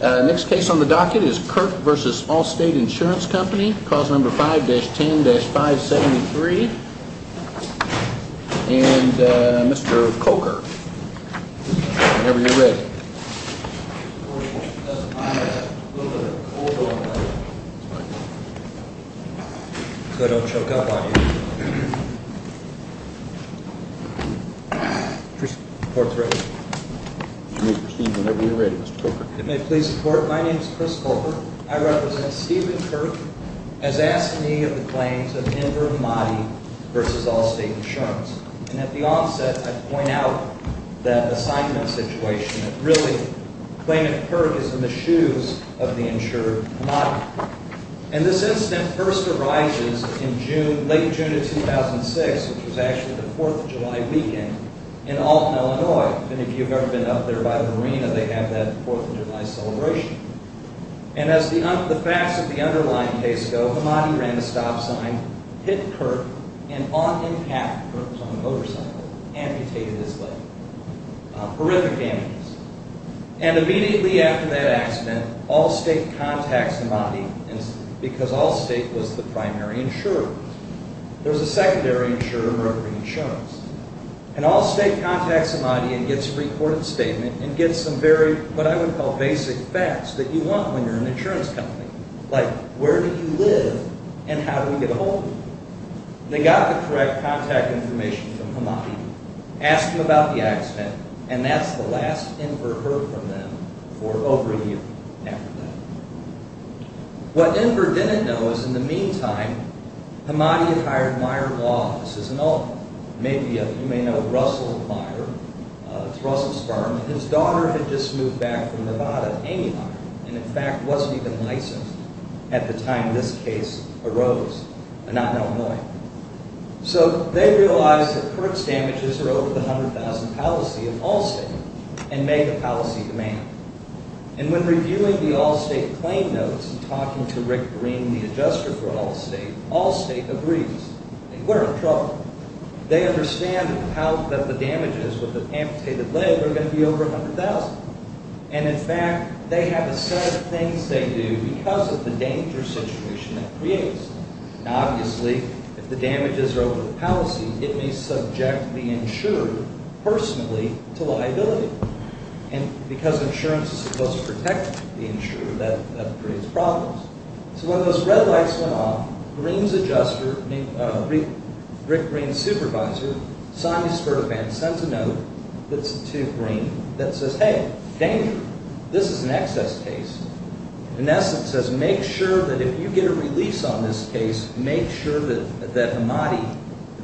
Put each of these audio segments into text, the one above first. Next case on the docket is Kirk v. Allstate Insurance Company, cause number 5-10-573, and Mr. Coker. Whenever you're ready. My name is Chris Coker. I represent Stephen Kirk, as asked me of the claims of Inder Mahdi v. Allstate Insurance. And at the onset, I'd point out that assignment situation at the time. Really, the claimant, Kirk, is in the shoes of the insurer, Mahdi. And this incident first arises in June, late June of 2006, which was actually the 4th of July weekend in Alton, Illinois. And if you've ever been up there by the marina, they have that 4th of July celebration. And as the facts of the underlying case go, Mahdi ran a stop sign, hit Kirk, and on impact, Kirk was on a motorcycle, amputated his leg. Horrific damages. And immediately after that accident, Allstate contacts Mahdi, because Allstate was the primary insurer. There was a secondary insurer, Rotary Insurance. And Allstate contacts Mahdi and gets a recorded statement and gets some very, what I would call, basic facts that you want when you're an insurance company. Like, where do you live and how do we get ahold of you? They got the correct contact information from Mahdi, asked him about the accident, and that's the last Inder heard from them for over a year after that. What Inder didn't know is in the meantime, Mahdi had hired Meijer Law Offices in Alton. You may know Russell Meijer. It's Russell's firm. His daughter had just moved back from Nevada, Amy Meijer, and in fact wasn't even licensed at the time this case arose. So they realized that Kirk's damages were over the $100,000 policy of Allstate and made a policy demand. And when reviewing the Allstate claim notes and talking to Rick Green, the adjuster for Allstate, Allstate agrees. We're in trouble. They understand that the damages with the amputated leg are going to be over $100,000. And in fact, they have a set of things they do because of the danger situation it creates. And obviously, if the damages are over the policy, it may subject the insurer personally to liability. And because insurance is supposed to protect the insurer, that creates problems. So when those red lights went off, Green's adjuster, Rick Green's supervisor, Sonny Sperban, sends a note to Green that says, hey, danger. This is an excess case. In essence, it says, make sure that if you get a release on this case, make sure that Mahdi,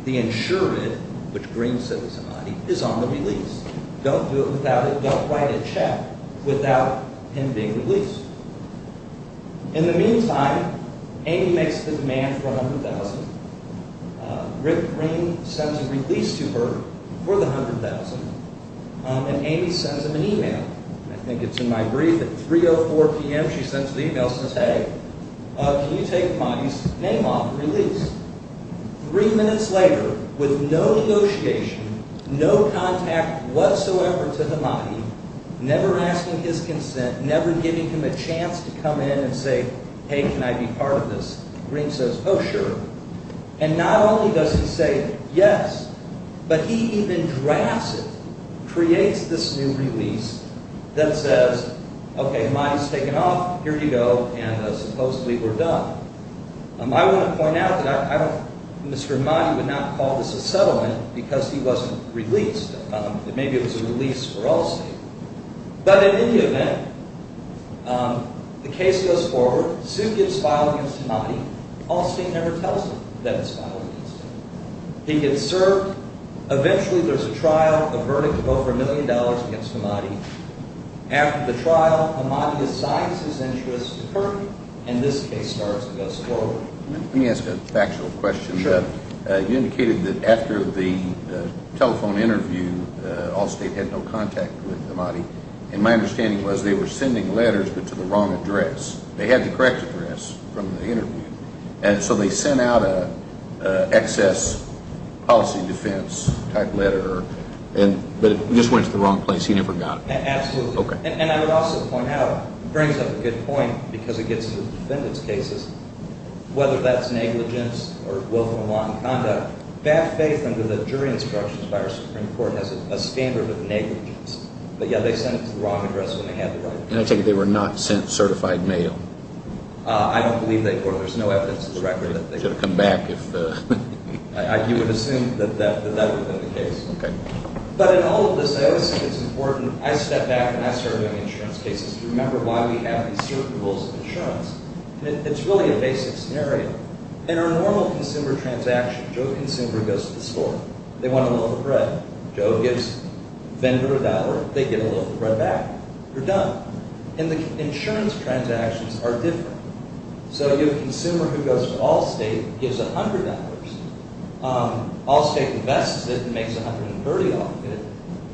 the insured, which Green said was Mahdi, is on the release. Don't do it without it. Don't write a check without him being released. In the meantime, Amy makes the demand for $100,000. Rick Green sends a release to her for the $100,000. And Amy sends him an email. I think it's in my brief. At 3.04 p.m., she sends the email and says, hey, can you take Mahdi's name off the release? Three minutes later, with no negotiation, no contact whatsoever to Mahdi, never asking his consent, never giving him a chance to come in and say, hey, can I be part of this, Green says, oh, sure. And not only does he say yes, but he even drafts it, creates this new release that says, okay, Mahdi's taken off, here you go, and supposedly we're done. I want to point out that Mr. Mahdi would not call this a settlement because he wasn't released. Maybe it was a release for Allstate. But in any event, the case goes forward. The suit gets filed against Mahdi. Allstate never tells him that it's filed against him. He gets served. Eventually, there's a trial, a verdict of over $1 million against Mahdi. After the trial, Mahdi decides his interests occur, and this case starts to go forward. Let me ask a factual question. You indicated that after the telephone interview, Allstate had no contact with Mahdi, and my understanding was they were sending letters, but to the wrong address. They had the correct address from the interview, and so they sent out an excess policy defense type letter, but it just went to the wrong place. He never got it. Absolutely. And I would also point out, it brings up a good point because it gets to the defendant's cases, whether that's negligence or willful malign conduct, bad faith under the jury instructions by our Supreme Court has a standard of negligence. But yeah, they sent it to the wrong address when they had the right address. And I take it they were not sent certified mail. I don't believe they were. There's no evidence to the record that they were. They should have come back if – You would assume that that would have been the case. Okay. But in all of this, I always think it's important – I step back and I survey insurance cases to remember why we have these certain rules of insurance. It's really a basic scenario. In a normal consumer transaction, Joe the consumer goes to the store. They want a loaf of bread. Joe gives the vendor a dollar. They get a loaf of bread back. You're done. And the insurance transactions are different. So you have a consumer who goes to Allstate, gives $100. Allstate invests it and makes $130 off of it.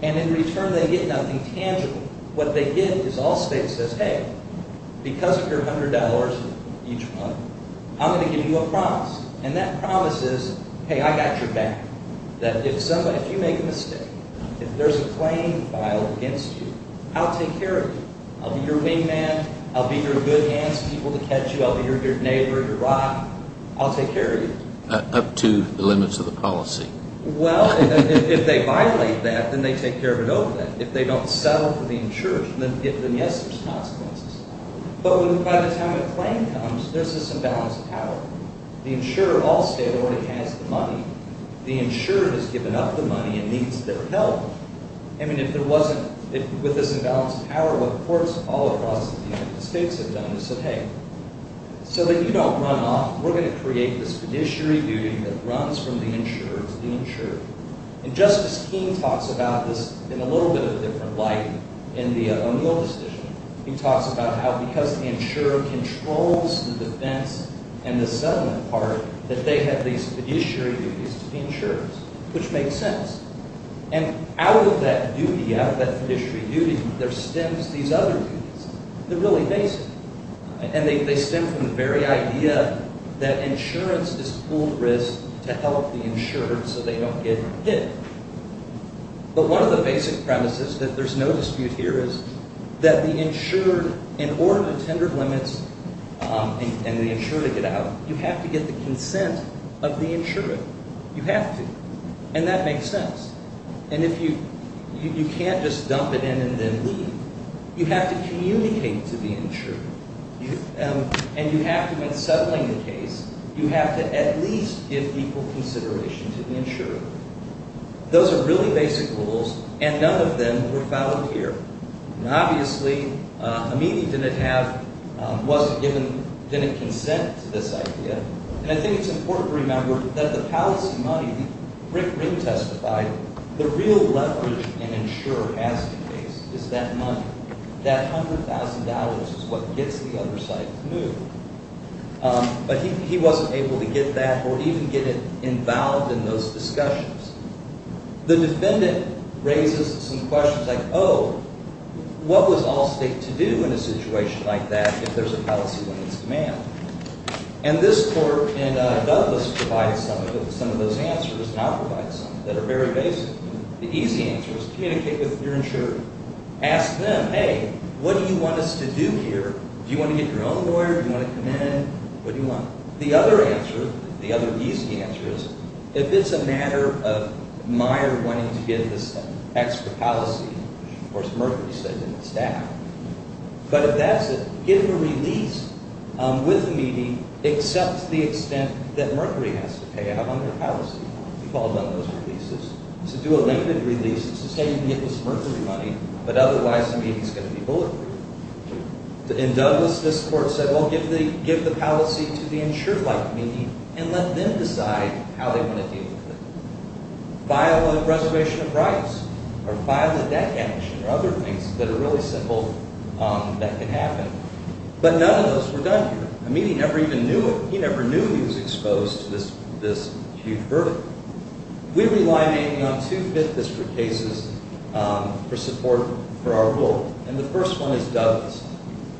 And in return, they get nothing tangible. What they get is Allstate says, hey, because of your $100 each month, I'm going to give you a promise. And that promise is, hey, I got your back. That if you make a mistake, if there's a claim filed against you, I'll take care of you. I'll be your wingman. I'll be your good hands, people to catch you. I'll be your neighbor, your rock. I'll take care of you. Up to the limits of the policy. Well, if they violate that, then they take care of it over that. If they don't settle for the insurance, then yes, there's consequences. But by the time a claim comes, there's this imbalance of power. The insurer of Allstate already has the money. The insurer has given up the money and needs their help. I mean, if there wasn't, with this imbalance of power, what courts all across the United States have done is said, hey, so that you don't run off, we're going to create this fiduciary duty that runs from the insurer to the insurer. And Justice King talks about this in a little bit of a different light in the O'Neill decision. He talks about how because the insurer controls the defense and the settlement part, that they have these fiduciary duties to the insurers, which makes sense. And out of that duty, out of that fiduciary duty, there stems these other duties that are really basic. And they stem from the very idea that insurance is pooled risk to help the insured so they don't get hit. But one of the basic premises that there's no dispute here is that the insured, in order to tender limits and the insured get out, you have to get the consent of the insured. You have to. And that makes sense. And if you can't just dump it in and then leave, you have to communicate to the insurer. And you have to, in settling the case, you have to at least give equal consideration to the insurer. Those are really basic rules, and none of them were followed here. And obviously, Amini didn't have, wasn't given, didn't consent to this idea. And I think it's important to remember that the policy money, Rick Ring testified, the real leverage an insurer has to face is that money, that $100,000 is what gets the other side to move. But he wasn't able to get that or even get involved in those discussions. The defendant raises some questions like, oh, what was Allstate to do in a situation like that if there's a policy limits demand? And this court in Douglas provides some of those answers, now provides some, that are very basic. The easy answer is communicate with your insurer. Ask them, hey, what do you want us to do here? Do you want to get your own lawyer? Do you want to come in? What do you want? The other answer, the other easy answer is, if it's a matter of Meyer wanting to get this extra policy, which, of course, Mercury said didn't stack, but if that's it, give a release with Amini, except to the extent that Mercury has to pay out on their policy. We've all done those releases. To do a limited release is to say you give us Mercury money, but otherwise, Amini's going to be bulleted. In Douglas, this court said, well, give the policy to the insurer like Amini and let them decide how they want to deal with it. File a reservation of rights or file a debt damage or other things that are really simple that can happen. But none of those were done here. Amini never even knew it. He never knew he was exposed to this huge verdict. We rely mainly on two Fifth District cases for support for our rule, and the first one is Douglas.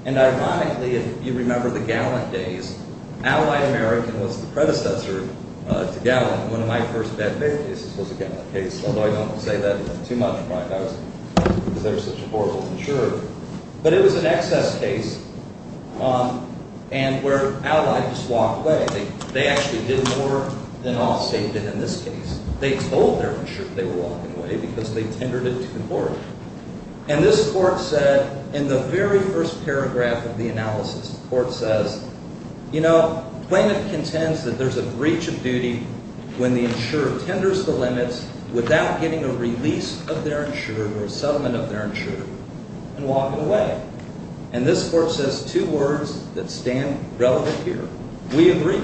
And ironically, if you remember the Gallant days, Ally American was the predecessor to Gallant, and one of my first debt pay cases was a Gallant case, although I don't say that too much, because they were such a horrible insurer. But it was an excess case where Ally just walked away. They actually did more than all say did in this case. They told their insurer they were walking away because they tendered it to the court. And this court said in the very first paragraph of the analysis, the court says, You know, plaintiff contends that there's a breach of duty when the insurer tenders the limits without getting a release of their insurer or a settlement of their insurer and walking away. And this court says two words that stand relevant here. We agree.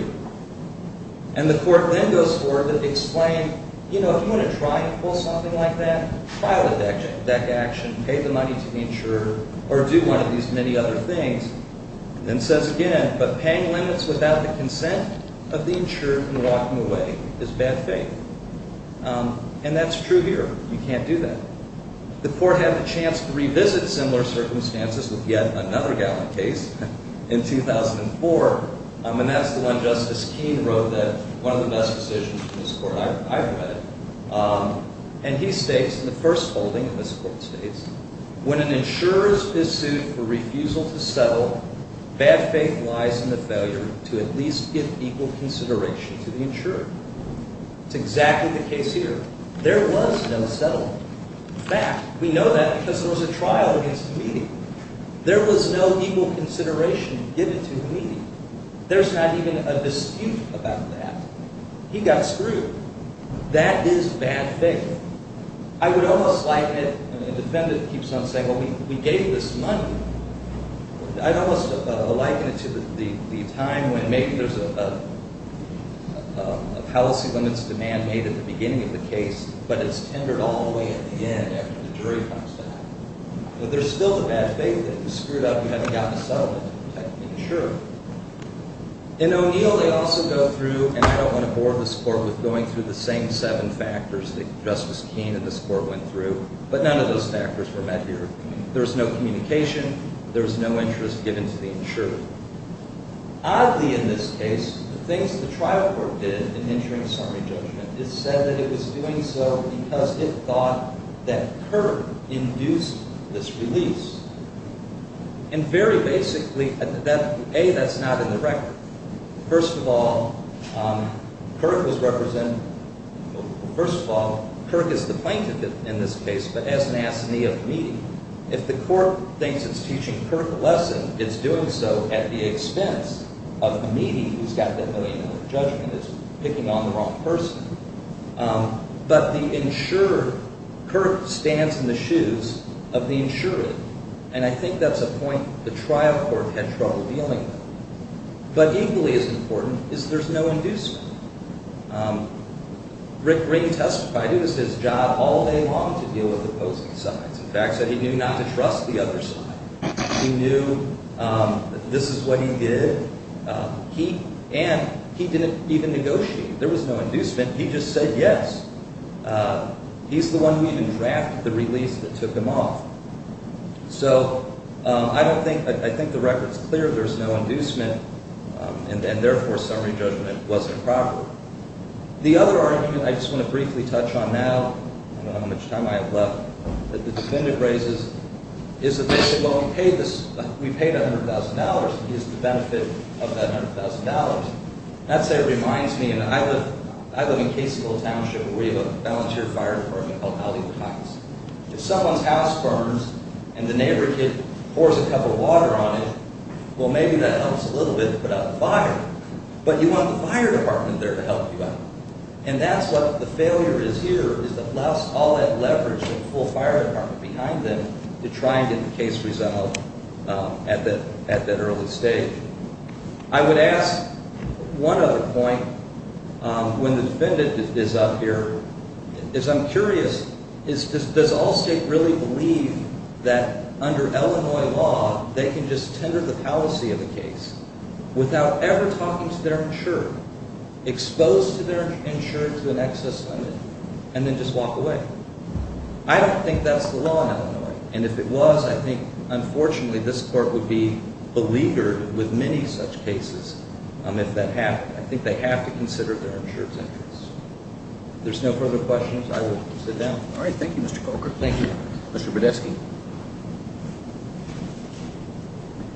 And the court then goes forward and explains, you know, if you want to try and pull something like that, file a debt action, pay the money to the insurer, or do one of these many other things, and says again, but paying limits without the consent of the insurer and walking away is bad faith. And that's true here. You can't do that. The court had the chance to revisit similar circumstances with yet another Gallant case in 2004, and that's the one Justice Keene wrote that one of the best decisions in this court I've read. And he states in the first holding, and this court states, When an insurer is sued for refusal to settle, bad faith lies in the failure to at least give equal consideration to the insurer. It's exactly the case here. There was no settlement. In fact, we know that because there was a trial against the meeting. There was no equal consideration given to the meeting. There's not even a dispute about that. He got screwed. That is bad faith. I would almost liken it, and the defendant keeps on saying, well, we gave this money. I'd almost liken it to the time when maybe there's a policy limits demand made at the beginning of the case, but it's tendered all the way at the end after the jury comes back. But there's still the bad faith that he's screwed up and hasn't gotten a settlement to protect the insurer. In O'Neill, they also go through, and I don't want to bore this court with going through the same seven factors that Justice Keene and this court went through, but none of those factors were met here. There was no communication. There was no interest given to the insurer. Oddly, in this case, the things that the trial court did in entering this Army judgment, it said that it was doing so because it thought that Kirk induced this release. And very basically, A, that's not in the record. First of all, Kirk is the plaintiff in this case, but as an assignee of Meadey. If the court thinks it's teaching Kirk a lesson, it's doing so at the expense of Meadey, who's got that million-dollar judgment that's picking on the wrong person. But the insurer, Kirk stands in the shoes of the insurer, and I think that's a point the trial court had trouble dealing with. But equally as important is there's no inducement. Rick Green testified it was his job all day long to deal with opposing sides. In fact, said he knew not to trust the other side. He knew that this is what he did, and he didn't even negotiate. There was no inducement. He just said yes. He's the one who even drafted the release that took him off. So I think the record's clear. There's no inducement, and therefore summary judgment wasn't proper. The other argument I just want to briefly touch on now, I don't know how much time I have left, that the defendant raises, is that basically, well, we paid $100,000. What is the benefit of that $100,000? That, say, reminds me, and I live in Caseyville Township, where we have a volunteer fire department called Alleywood Heights. If someone's house burns and the neighbor kid pours a cup of water on it, well, maybe that helps a little bit to put out the fire. But you want the fire department there to help you out. And that's what the failure is here, is to blast all that leverage of the full fire department behind them to try and get the case resolved at that early stage. I would ask one other point. When the defendant is up here, I'm curious, does Allstate really believe that under Illinois law, they can just tender the policy of the case without ever talking to their insurer, exposed to their insurer to an excess limit, and then just walk away? I don't think that's the law in Illinois. And if it was, I think, unfortunately, this court would be beleaguered with many such cases if that happened. I think they have to consider their insurer's interests. If there's no further questions, I will sit down. All right. Thank you, Mr. Coker. Thank you. Mr. Badesky.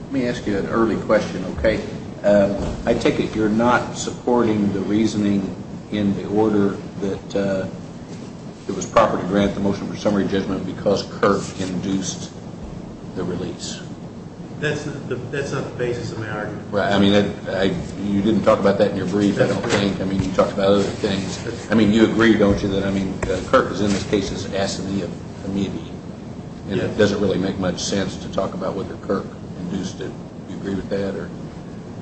Let me ask you an early question, okay? I take it you're not supporting the reasoning in the order that it was proper to grant the motion for summary judgment because Kirk induced the release. That's not the basis of my argument. Right. I mean, you didn't talk about that in your brief, I don't think. I mean, you talked about other things. I mean, you agree, don't you, that, I mean, Kirk is, in this case, asking me immediately. And it doesn't really make much sense to talk about whether Kirk induced it. Do you agree with that?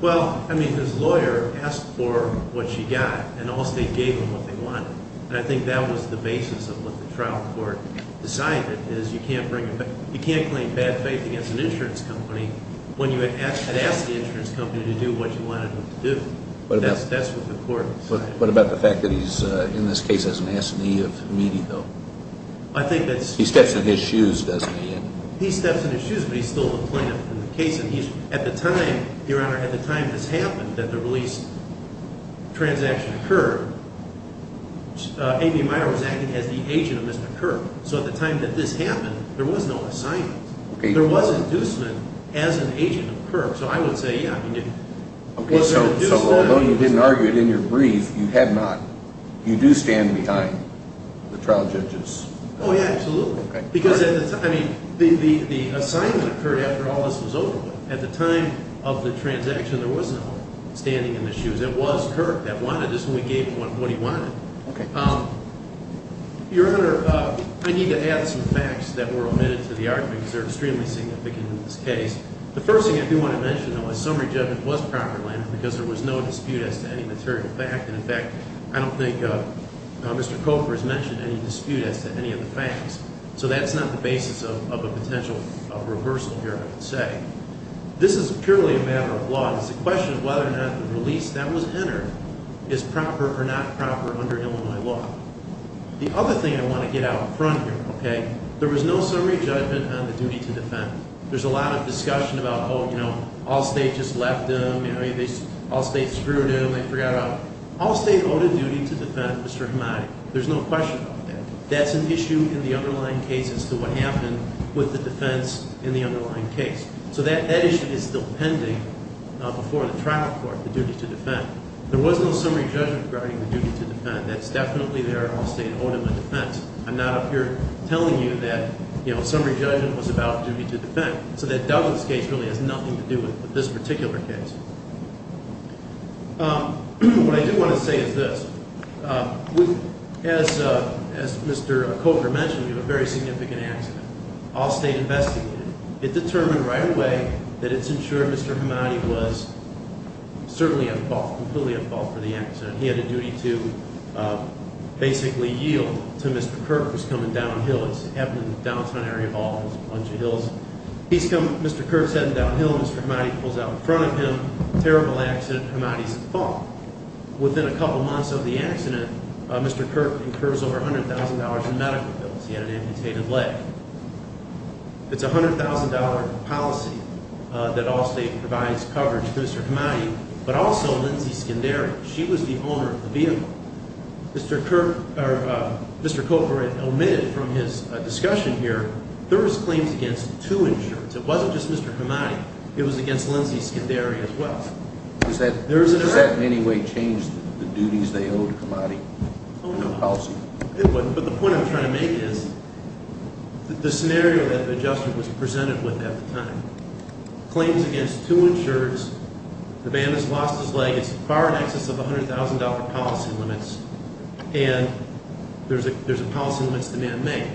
Well, I mean, his lawyer asked for what she got, and Allstate gave him what they wanted. And I think that was the basis of what the trial court decided, is you can't claim bad faith against an insurance company when you had asked the insurance company to do what you wanted them to do. That's what the court decided. What about the fact that he's, in this case, has an ass in the knee of meeting, though? He steps in his shoes, doesn't he? He steps in his shoes, but he's still a plaintiff in the case. At the time, Your Honor, at the time this happened, that the release transaction occurred, Amy Meyer was acting as the agent of Mr. Kirk. So at the time that this happened, there was no assignment. There was inducement as an agent of Kirk. So I would say, yeah, there was an inducement. So although you didn't argue it in your brief, you had not. You do stand behind the trial judges? Oh, yeah, absolutely. Because, I mean, the assignment occurred after all this was over with. At the time of the transaction, there was no standing in the shoes. It was Kirk that wanted this, and we gave him what he wanted. Your Honor, I need to add some facts that were omitted to the argument, because they're extremely significant in this case. The first thing I do want to mention, though, is summary judgment was properly entered because there was no dispute as to any material fact. And, in fact, I don't think Mr. Coker has mentioned any dispute as to any of the facts. So that's not the basis of a potential reversal here, I would say. This is purely a matter of law. It's a question of whether or not the release that was entered is proper or not proper under Illinois law. The other thing I want to get out in front here, okay, there was no summary judgment on the duty to defend. There's a lot of discussion about, oh, you know, Allstate just left him. You know, Allstate screwed him. They forgot about him. Allstate owed a duty to defend Mr. Hamadi. There's no question about that. That's an issue in the underlying case as to what happened with the defense in the underlying case. So that issue is still pending before the trial court, the duty to defend. There was no summary judgment regarding the duty to defend. That's definitely there. Allstate owed him a defense. I'm not up here telling you that, you know, summary judgment was about duty to defend. So that Douglas case really has nothing to do with this particular case. What I do want to say is this. As Mr. Coker mentioned, we have a very significant accident. Allstate investigated it. It determined right away that it's ensured Mr. Hamadi was certainly at fault, completely at fault for the accident. He had a duty to basically yield to Mr. Kirk, who's coming downhill. It's happening in the downtown area of Allstate, a bunch of hills. He's coming, Mr. Kirk's heading downhill, and Mr. Hamadi pulls out in front of him. Terrible accident. Hamadi's at fault. Within a couple months of the accident, Mr. Kirk incurs over $100,000 in medical bills. He had an amputated leg. It's a $100,000 policy that Allstate provides coverage to Mr. Hamadi. But also Lindsay Skendary. She was the owner of the vehicle. Mr. Kirk, or Mr. Coker, omitted from his discussion here, there was claims against two insurers. It wasn't just Mr. Hamadi. It was against Lindsay Skendary as well. Does that in any way change the duties they owed Hamadi? Oh, no. But the point I'm trying to make is the scenario that the judge was presented with at the time, claims against two insurers. The man has lost his leg. It's far in excess of $100,000 policy limits. And there's a policy limits demand made.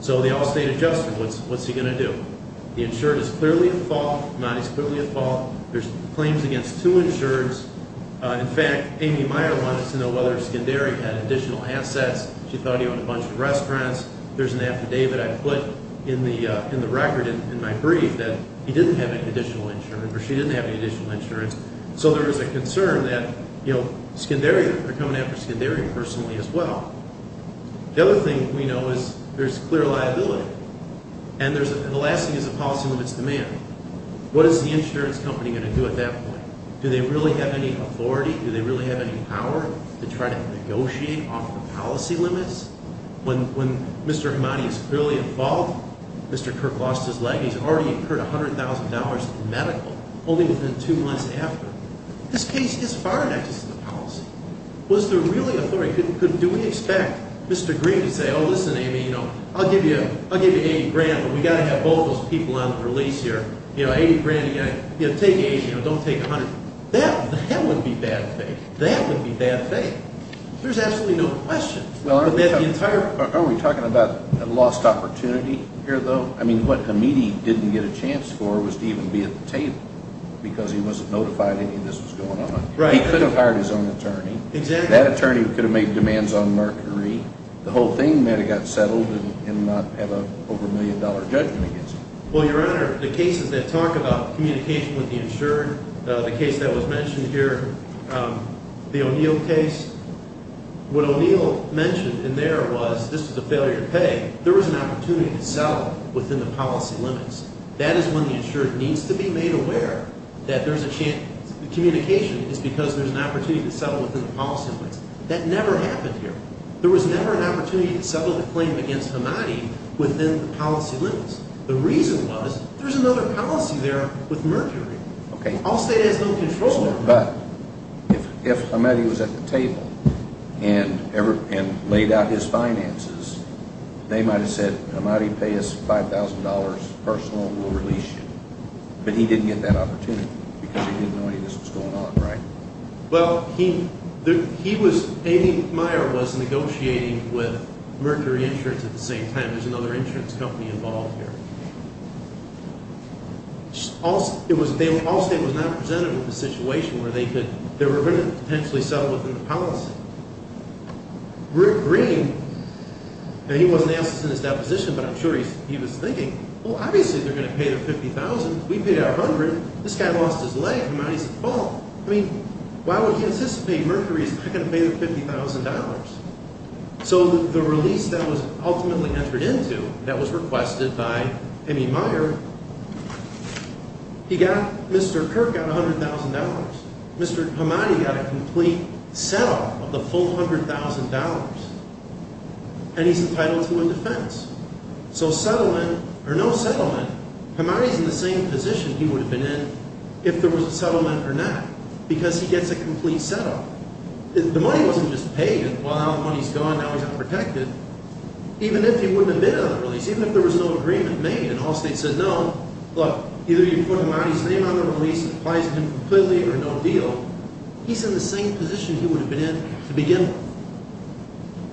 So the Allstate adjusted. What's he going to do? The insurer is clearly at fault. Hamadi's clearly at fault. There's claims against two insurers. In fact, Amy Meyer wanted to know whether Skendary had additional assets. She thought he owned a bunch of restaurants. There's an affidavit I put in the record in my brief that he didn't have any additional insurance, or she didn't have any additional insurance. So there was a concern that Skendary, they're coming after Skendary personally as well. The other thing we know is there's clear liability. And the last thing is the policy limits demand. What is the insurance company going to do at that point? Do they really have any authority? Do they really have any power to try to negotiate off the policy limits? When Mr. Hamadi is clearly involved, Mr. Kirk lost his leg. He's already incurred $100,000 in medical only within two months after. This case is far in excess of the policy. Was there really authority? Do we expect Mr. Green to say, oh, listen, Amy, you know, I'll give you $80,000, but we've got to have both of those people on the release here. You know, $80,000. You know, take $80,000. Don't take $100,000. That wouldn't be bad faith. That wouldn't be bad faith. There's absolutely no question. Well, aren't we talking about a lost opportunity here, though? I mean, what Hamidi didn't get a chance for was to even be at the table because he wasn't notified any of this was going on. Right. He could have hired his own attorney. Exactly. That attorney could have made demands on Mercury. The whole thing may have got settled and not have an over-a-million-dollar judgment against him. Well, Your Honor, the cases that talk about communication with the insured, the case that was mentioned here, the O'Neill case, what O'Neill mentioned in there was this was a failure to pay. There was an opportunity to settle within the policy limits. That is when the insured needs to be made aware that communication is because there's an opportunity to settle within the policy limits. That never happened here. There was never an opportunity to settle the claim against Hamidi within the policy limits. The reason was there's another policy there with Mercury. All state has no control over that. But if Hamidi was at the table and laid out his finances, they might have said, Hamidi, pay us $5,000, personal, and we'll release you. But he didn't get that opportunity because he didn't know any of this was going on. Right. Well, he was negotiating with Mercury Insurance at the same time. There's another insurance company involved here. All state was not presented with a situation where they were going to potentially settle within the policy. Rick Green, and he wasn't asked this in his deposition, but I'm sure he was thinking, well, obviously they're going to pay the $50,000. We paid our $100,000. This guy lost his leg. Hamidi's at fault. I mean, why would he anticipate Mercury's not going to pay the $50,000? So the release that was ultimately entered into that was requested by Amy Meyer. He got, Mr. Kirk got $100,000. Mr. Hamidi got a complete set up of the full $100,000. And he's entitled to a defense. So settlement or no settlement, Hamidi's in the same position he would have been in if there was a settlement or not because he gets a complete set up. The money wasn't just paid. Well, now the money's gone. Now he's unprotected. Even if he wouldn't have been on the release, even if there was no agreement made and Allstate said no, look, either you put Hamidi's name on the release and it applies to him completely or no deal, he's in the same position he would have been in to begin with.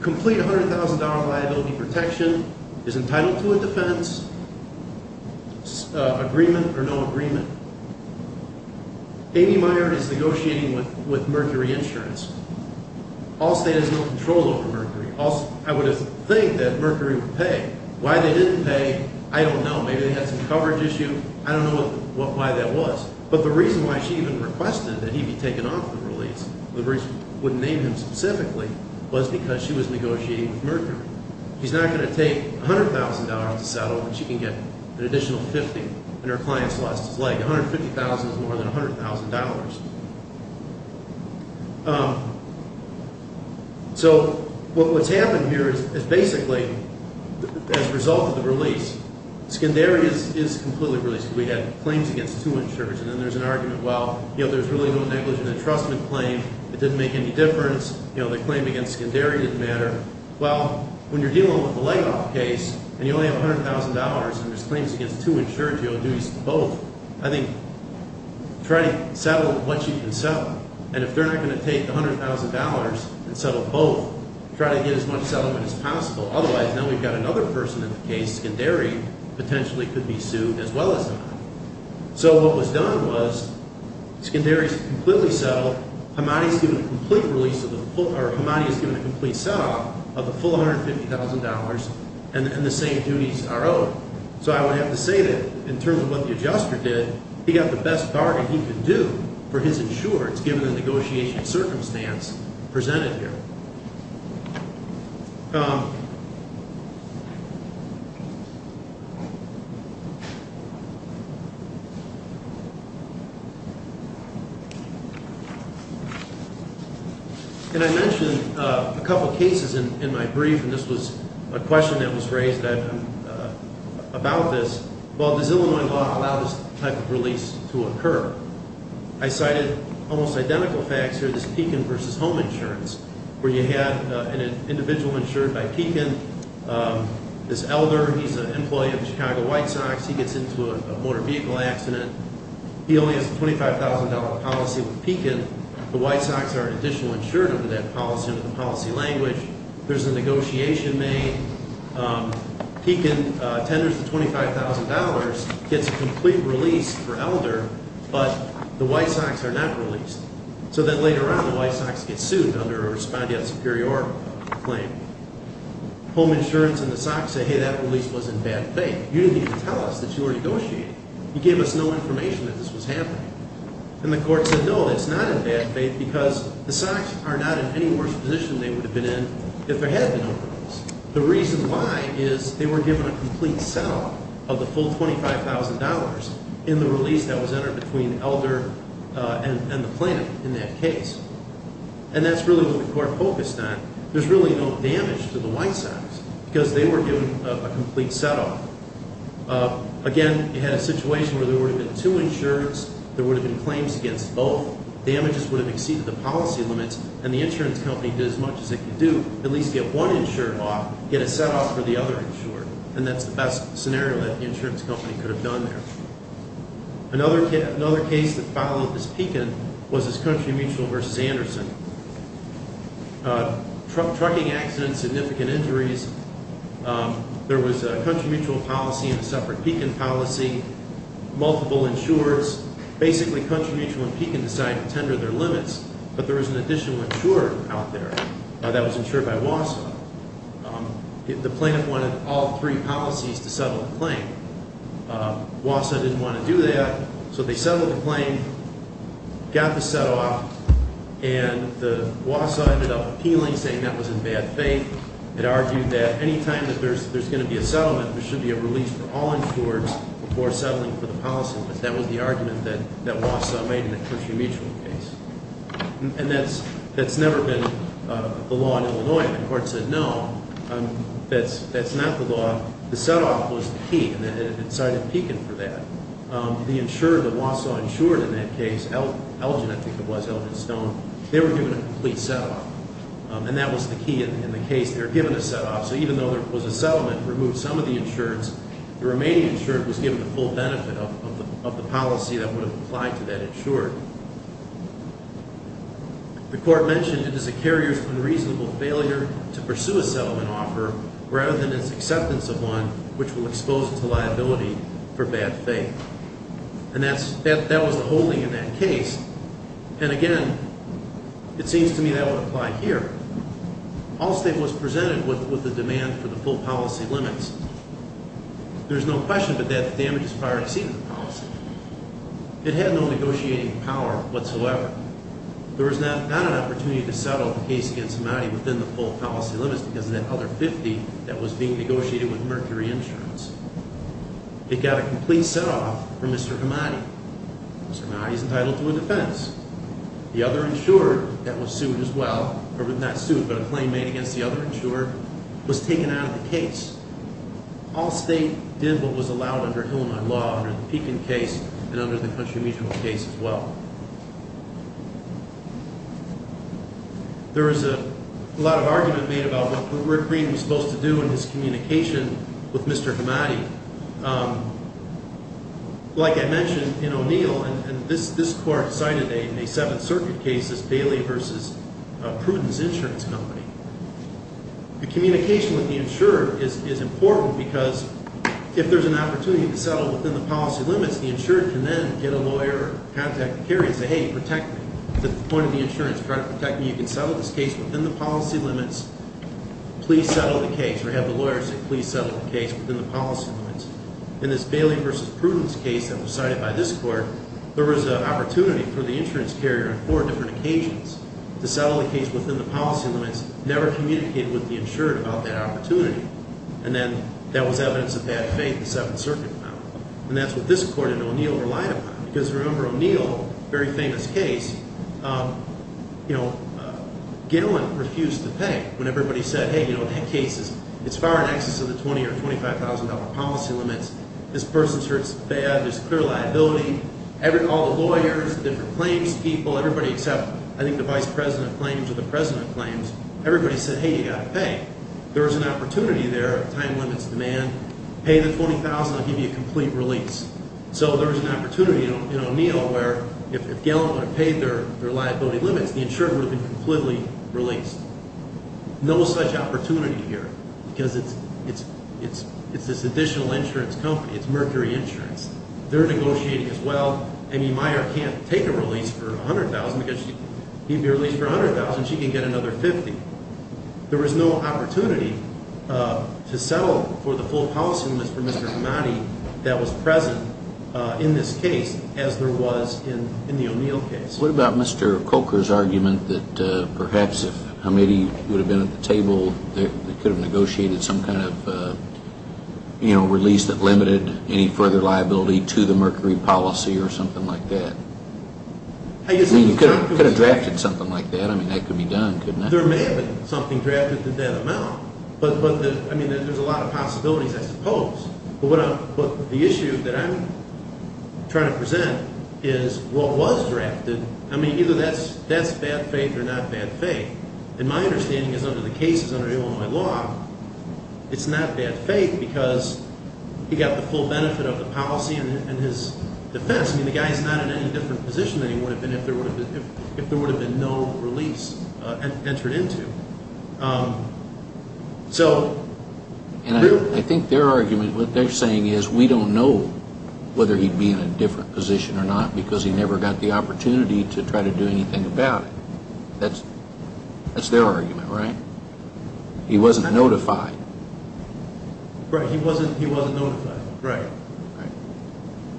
Complete $100,000 liability protection, is entitled to a defense, agreement or no agreement. Amy Meyer is negotiating with Mercury Insurance. Allstate has no control over Mercury. I would think that Mercury would pay. Why they didn't pay, I don't know. Maybe they had some coverage issue. I don't know why that was. But the reason why she even requested that he be taken off the release, the reason I wouldn't name him specifically, was because she was negotiating with Mercury. She's not going to take $100,000 to settle and she can get an additional $50,000 and her client's lost his leg. $150,000 is more than $100,000. So what's happened here is basically, as a result of the release, Scandaria is completely released. We had claims against two insurers and then there's an argument, well, you know, there's really no negligent entrustment claim. It didn't make any difference. You know, the claim against Scandaria didn't matter. Well, when you're dealing with the Legoff case and you only have $100,000 and there's claims against two insurers, you'll do both. I think try to settle what you can settle. And if they're not going to take the $100,000 and settle both, try to get as much settlement as possible. Otherwise, now we've got another person in the case. Scandaria potentially could be sued as well as not. So what was done was Scandaria is completely settled. Hamadi has given a complete set-up of the full $150,000 and the same duties are owed. So I would have to say that in terms of what the adjuster did, he got the best bargain he could do for his insurance given the negotiation circumstance presented here. And I mentioned a couple of cases in my brief, and this was a question that was raised. About this, well, does Illinois law allow this type of release to occur? I cited almost identical facts here, this Pekin v. Home Insurance, where you had an individual insured by Pekin, this elder. He's an employee of the Chicago White Sox. He gets into a motor vehicle accident. He only has a $25,000 policy with Pekin. The White Sox are an additional insurer under that policy, under the policy language. There's a negotiation made. Pekin tenders the $25,000, gets a complete release for elder, but the White Sox are not released. So then later on the White Sox get sued under a respondeat superior claim. Home Insurance and the Sox say, hey, that release was in bad faith. You didn't even tell us that you were negotiating. You gave us no information that this was happening. And the court said, no, it's not in bad faith because the Sox are not in any worse position they would have been in if there had been no release. The reason why is they were given a complete set-off of the full $25,000 in the release that was entered between elder and the plaintiff in that case. And that's really what the court focused on. There's really no damage to the White Sox because they were given a complete set-off. Again, you had a situation where there would have been two insurers. There would have been claims against both. Damages would have exceeded the policy limits, and the insurance company did as much as it could do, at least get one insurer off, get a set-off for the other insurer. And that's the best scenario that the insurance company could have done there. Another case that followed this Pekin was this Country Mutual v. Anderson. Trucking accidents, significant injuries. There was a Country Mutual policy and a separate Pekin policy, multiple insurers. Basically, Country Mutual and Pekin decided to tender their limits, but there was an additional insurer out there that was insured by Wausau. The plaintiff wanted all three policies to settle the claim. Wausau didn't want to do that, so they settled the claim, got the set-off, and Wausau ended up appealing, saying that was in bad faith. It argued that any time that there's going to be a settlement, there should be a release for all insurers before settling for the policy. That was the argument that Wausau made in the Country Mutual case. And that's never been the law in Illinois. The court said, no, that's not the law. The set-off was the key, and it cited Pekin for that. The insurer that Wausau insured in that case, Elgin, I think it was, Elgin Stone, they were given a complete set-off, and that was the key in the case. They were given a set-off. So even though there was a settlement, removed some of the insurers, the remaining insurer was given the full benefit of the policy that would have applied to that insurer. The court mentioned it as a carrier's unreasonable failure to pursue a settlement offer rather than its acceptance of one which will expose it to liability for bad faith. And that was the whole thing in that case. And, again, it seems to me that would apply here. Allstate was presented with a demand for the full policy limits. There's no question, but that damage is prior to seeing the policy. It had no negotiating power whatsoever. There was not an opportunity to settle the case against Hamadi within the full policy limits because of that other 50 that was being negotiated with Mercury Insurance. It got a complete set-off for Mr. Hamadi. Mr. Hamadi is entitled to a defense. The other insurer that was sued as well, or was not sued but a claim made against the other insurer, was taken out of the case. Allstate did what was allowed under Illinois law, under the Pekin case, and under the Country Mutual case as well. There is a lot of argument made about what Rick Green was supposed to do in his communication with Mr. Hamadi. Like I mentioned, in O'Neill, and this court cited a Seventh Circuit case, this Bailey v. Prudence Insurance Company. The communication with the insurer is important because if there's an opportunity to settle within the policy limits, the insurer can then get a lawyer, contact the carrier and say, hey, protect me. At the point of the insurance, try to protect me. You can settle this case within the policy limits. Please settle the case, or have the lawyer say, please settle the case within the policy limits. In this Bailey v. Prudence case that was cited by this court, there was an opportunity for the insurance carrier on four different occasions to settle the case within the policy limits. Never communicated with the insurer about that opportunity. And then that was evidence of bad faith the Seventh Circuit found. And that's what this court and O'Neill relied upon. Because remember O'Neill, very famous case, you know, Gillen refused to pay when everybody said, hey, you know, that case is far in excess of the $20,000 or $25,000 policy limits. This person's hurts bad, there's clear liability. All the lawyers, different claims people, everybody except, I think the vice president claims or the president claims, everybody said, hey, you've got to pay. There was an opportunity there, time limits, demand. Pay the $20,000, I'll give you a complete release. So there was an opportunity in O'Neill where if Gillen would have paid their liability limits, the insurer would have been completely released. No such opportunity here. Because it's this additional insurance company, it's Mercury Insurance. They're negotiating as well. I mean, Meyer can't take a release for $100,000 because he'd be released for $100,000. She can get another $50,000. There was no opportunity to settle for the full policy limits for Mr. Hamadi that was present in this case as there was in the O'Neill case. What about Mr. Coker's argument that perhaps if Hamadi would have been at the table, they could have negotiated some kind of release that limited any further liability to the Mercury policy or something like that. I mean, you could have drafted something like that. I mean, that could be done, couldn't it? There may have been something drafted to that amount. But, I mean, there's a lot of possibilities, I suppose. But the issue that I'm trying to present is what was drafted. I mean, either that's bad faith or not bad faith. And my understanding is under the cases under Illinois law, it's not bad faith because he got the full benefit of the policy and his defense. I mean, the guy's not in any different position than he would have been if there would have been no release entered into. And I think their argument, what they're saying is we don't know whether he'd be in a different position or not because he never got the opportunity to try to do anything about it. That's their argument, right? He wasn't notified. Right, he wasn't notified. Right.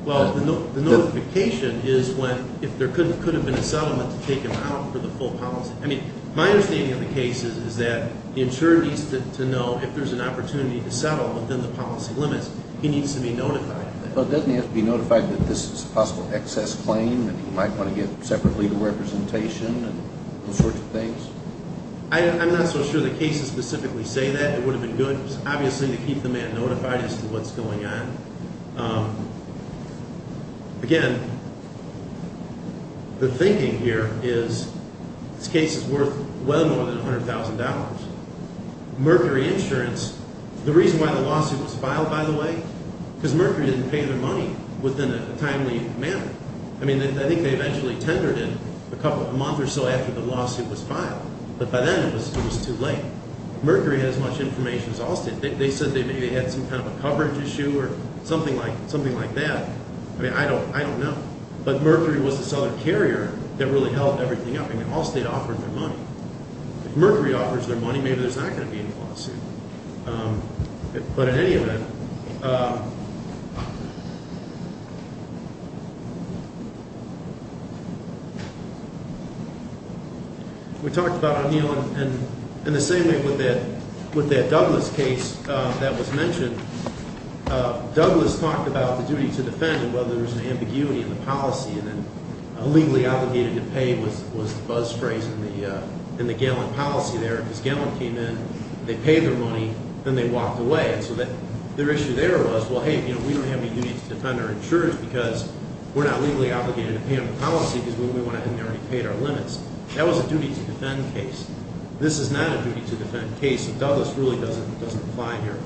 Well, the notification is when if there could have been a settlement to take him out for the full policy. I mean, my understanding of the case is that the insurer needs to know if there's an opportunity to settle within the policy limits, he needs to be notified. But doesn't he have to be notified that this is a possible excess claim and he might want to get separate legal representation and those sorts of things? I'm not so sure the cases specifically say that. It would have been good, obviously, to keep the man notified as to what's going on. Again, the thinking here is this case is worth well more than $100,000. Mercury Insurance, the reason why the lawsuit was filed, by the way, because Mercury didn't pay their money within a timely manner. I mean, I think they eventually tendered it a month or so after the lawsuit was filed, but by then it was too late. Mercury had as much information as Allstate. They said they maybe had some kind of a coverage issue or something like that. I mean, I don't know. But Mercury was this other carrier that really held everything up. I mean, Allstate offered their money. If Mercury offers their money, maybe there's not going to be any lawsuit. But in any event, we talked about O'Neill, and in the same way with that Douglas case that was mentioned, Douglas talked about the duty to defend and whether there was an ambiguity in the policy and then illegally obligated to pay was the buzz phrase in the Gallant policy there because Gallant came in, they paid their money, then they walked away. And so their issue there was, well, hey, we don't have any duty to defend our insurance because we're not legally obligated to pay on the policy because we went ahead and already paid our limits. That was a duty to defend case. This is not a duty to defend case, and Douglas really doesn't apply here.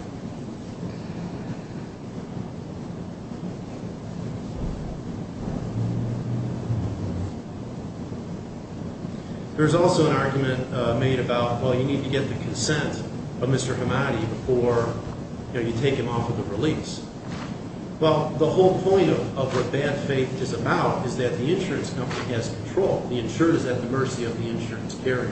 There's also an argument made about, well, you need to get the consent of Mr. Hamadi before you take him off of the release. Well, the whole point of what bad faith is about is that the insurance company has control. The insurer is at the mercy of the insurance carrier.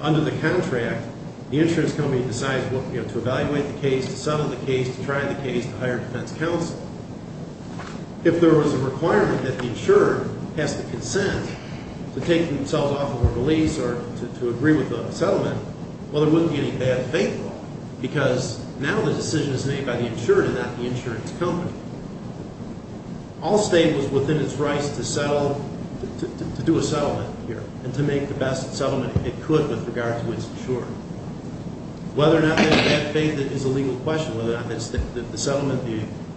Under the contract, the insurance company decides to evaluate the case, to settle the case, to try the case, to hire defense counsel. If there was a requirement that the insurer has the consent to take themselves off of a release or to agree with the settlement, well, there wouldn't be any bad faith law because now the decision is made by the insurer and not the insurance company. All state was within its rights to do a settlement here and to make the best settlement it could with regards to its insurer. Whether or not there's bad faith is a legal question. Whether or not the settlement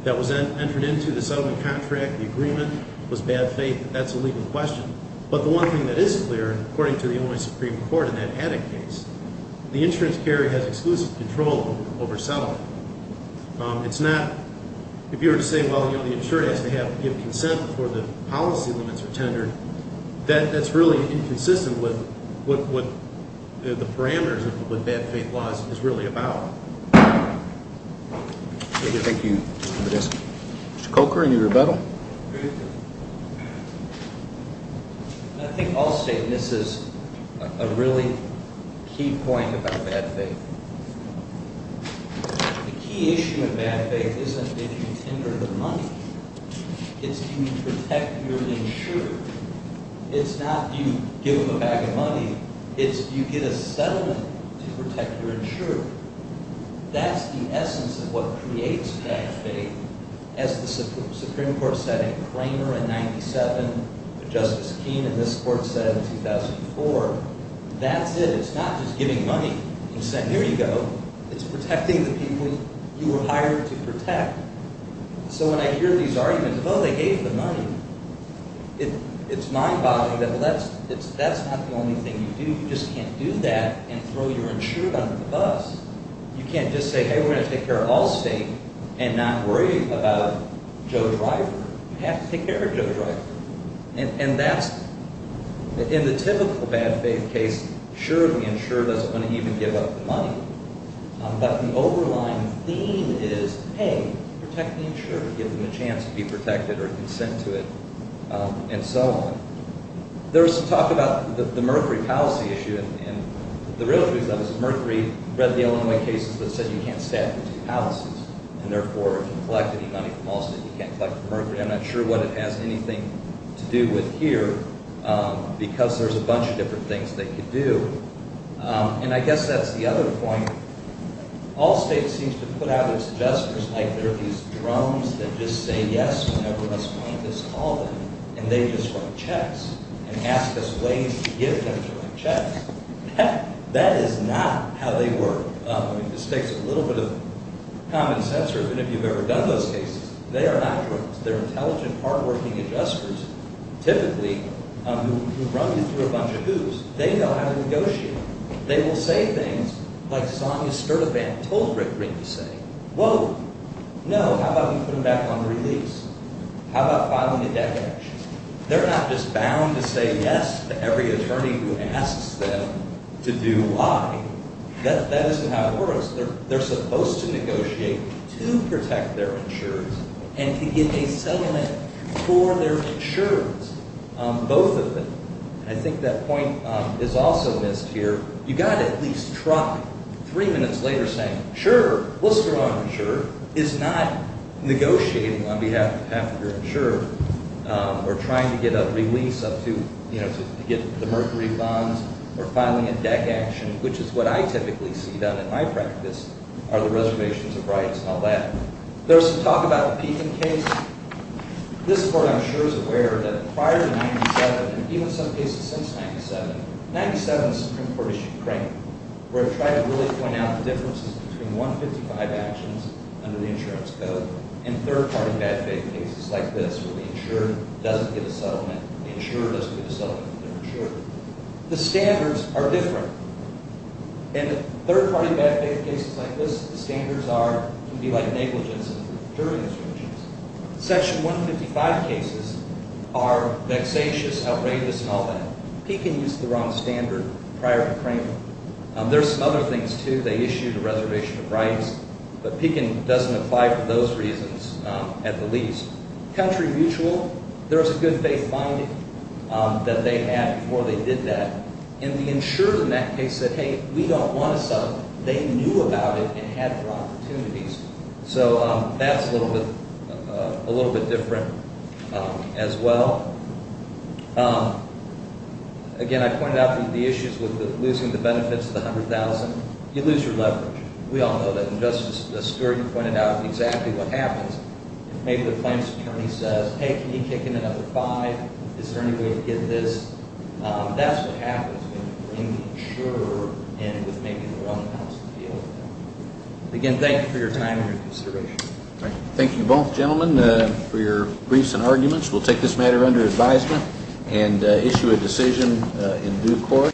that was entered into, the settlement contract, the agreement, was bad faith, that's a legal question. But the one thing that is clear, and according to the Illinois Supreme Court in that Haddock case, the insurance carrier has exclusive control over settlement. It's not, if you were to say, well, the insurer has to give consent before the policy limits are tendered, that's really inconsistent with what the parameters of what bad faith law is really about. Thank you, Mr. Podesta. Mr. Coker, any rebuttal? I think all state misses a really key point about bad faith. The key issue of bad faith isn't if you tender the money. It's do you protect your insurer. It's not do you give them a bag of money. It's do you get a settlement to protect your insurer. That's the essence of what creates bad faith. As the Supreme Court said in Cramer in 97, as Justice Keene in this court said in 2004, that's it. It's not just giving money, consent, here you go. It's protecting the people you were hired to protect. So when I hear these arguments, oh, they gave the money, it's mind-boggling that that's not the only thing you do. You just can't do that and throw your insurer under the bus. You can't just say, hey, we're going to take care of all state and not worry about Joe Driver. You have to take care of Joe Driver. And that's in the typical bad faith case, sure, the insurer doesn't want to even give up the money. But an overlying theme is, hey, protect the insurer. Give them a chance to be protected or consent to it and so on. There was some talk about the Mercury policy issue. And the real truth of it is Mercury read the Illinois cases that said you can't stab into palaces. And therefore, if you collect any money from all states, you can't collect from Mercury. I'm not sure what it has anything to do with here, because there's a bunch of different things they could do. And I guess that's the other point. All states seem to put out their suggestors like they're these drums that just say yes whenever us plaintiffs call them. And they just write checks and ask us ways to give them to write checks. That is not how they work. I mean, this takes a little bit of common sense, or even if you've ever done those cases. They are not drums. They're intelligent, hardworking adjusters, typically, who run you through a bunch of hoops. They know how to negotiate. They will say things like Sonia Sturtevant told Rick Green to say. Whoa, no, how about we put them back on the release? How about filing a debt connection? They're not just bound to say yes to every attorney who asks them to do why. That isn't how it works. They're supposed to negotiate to protect their insurers and to get a settlement for their insurers, both of them. And I think that point is also missed here. You've got to at least try three minutes later saying, sure, what's wrong, sure, is not negotiating on behalf of your insurer or trying to get a release to get the mercury bonds or filing a debt connection, which is what I typically see done in my practice, are the reservations of rights and all that. There's some talk about a peaking case. This court, I'm sure, is aware that prior to 97, and even some cases since 97, 97 Supreme Court is Ukraine, where it tried to really point out the differences between 155 actions under the insurance code and third-party bad faith cases like this, where the insurer doesn't get a settlement, the insurer doesn't get a settlement for their insurer. The standards are different. And the third-party bad faith cases like this, the standards are going to be like negligence during insurances. Section 155 cases are vexatious, outrageous, and all that. Pekin used the wrong standard prior to Kramer. There's some other things, too. They issued a reservation of rights, but Pekin doesn't apply for those reasons at the least. Country mutual, there was a good faith finding that they had before they did that. And the insurer in that case said, hey, we don't want a settlement. They knew about it and had opportunities. So that's a little bit different as well. Again, I pointed out the issues with losing the benefits of the $100,000. You lose your leverage. We all know that. And Justice Stewart pointed out exactly what happens. Maybe the plaintiff's attorney says, hey, can you kick in another $500,000? Is there any way to get this? That's what happens when you bring the insurer in with making the wrong amounts of the deal. Again, thank you for your time and your consideration. Thank you both, gentlemen, for your briefs and arguments. We'll take this matter under advisement and issue a decision in due course.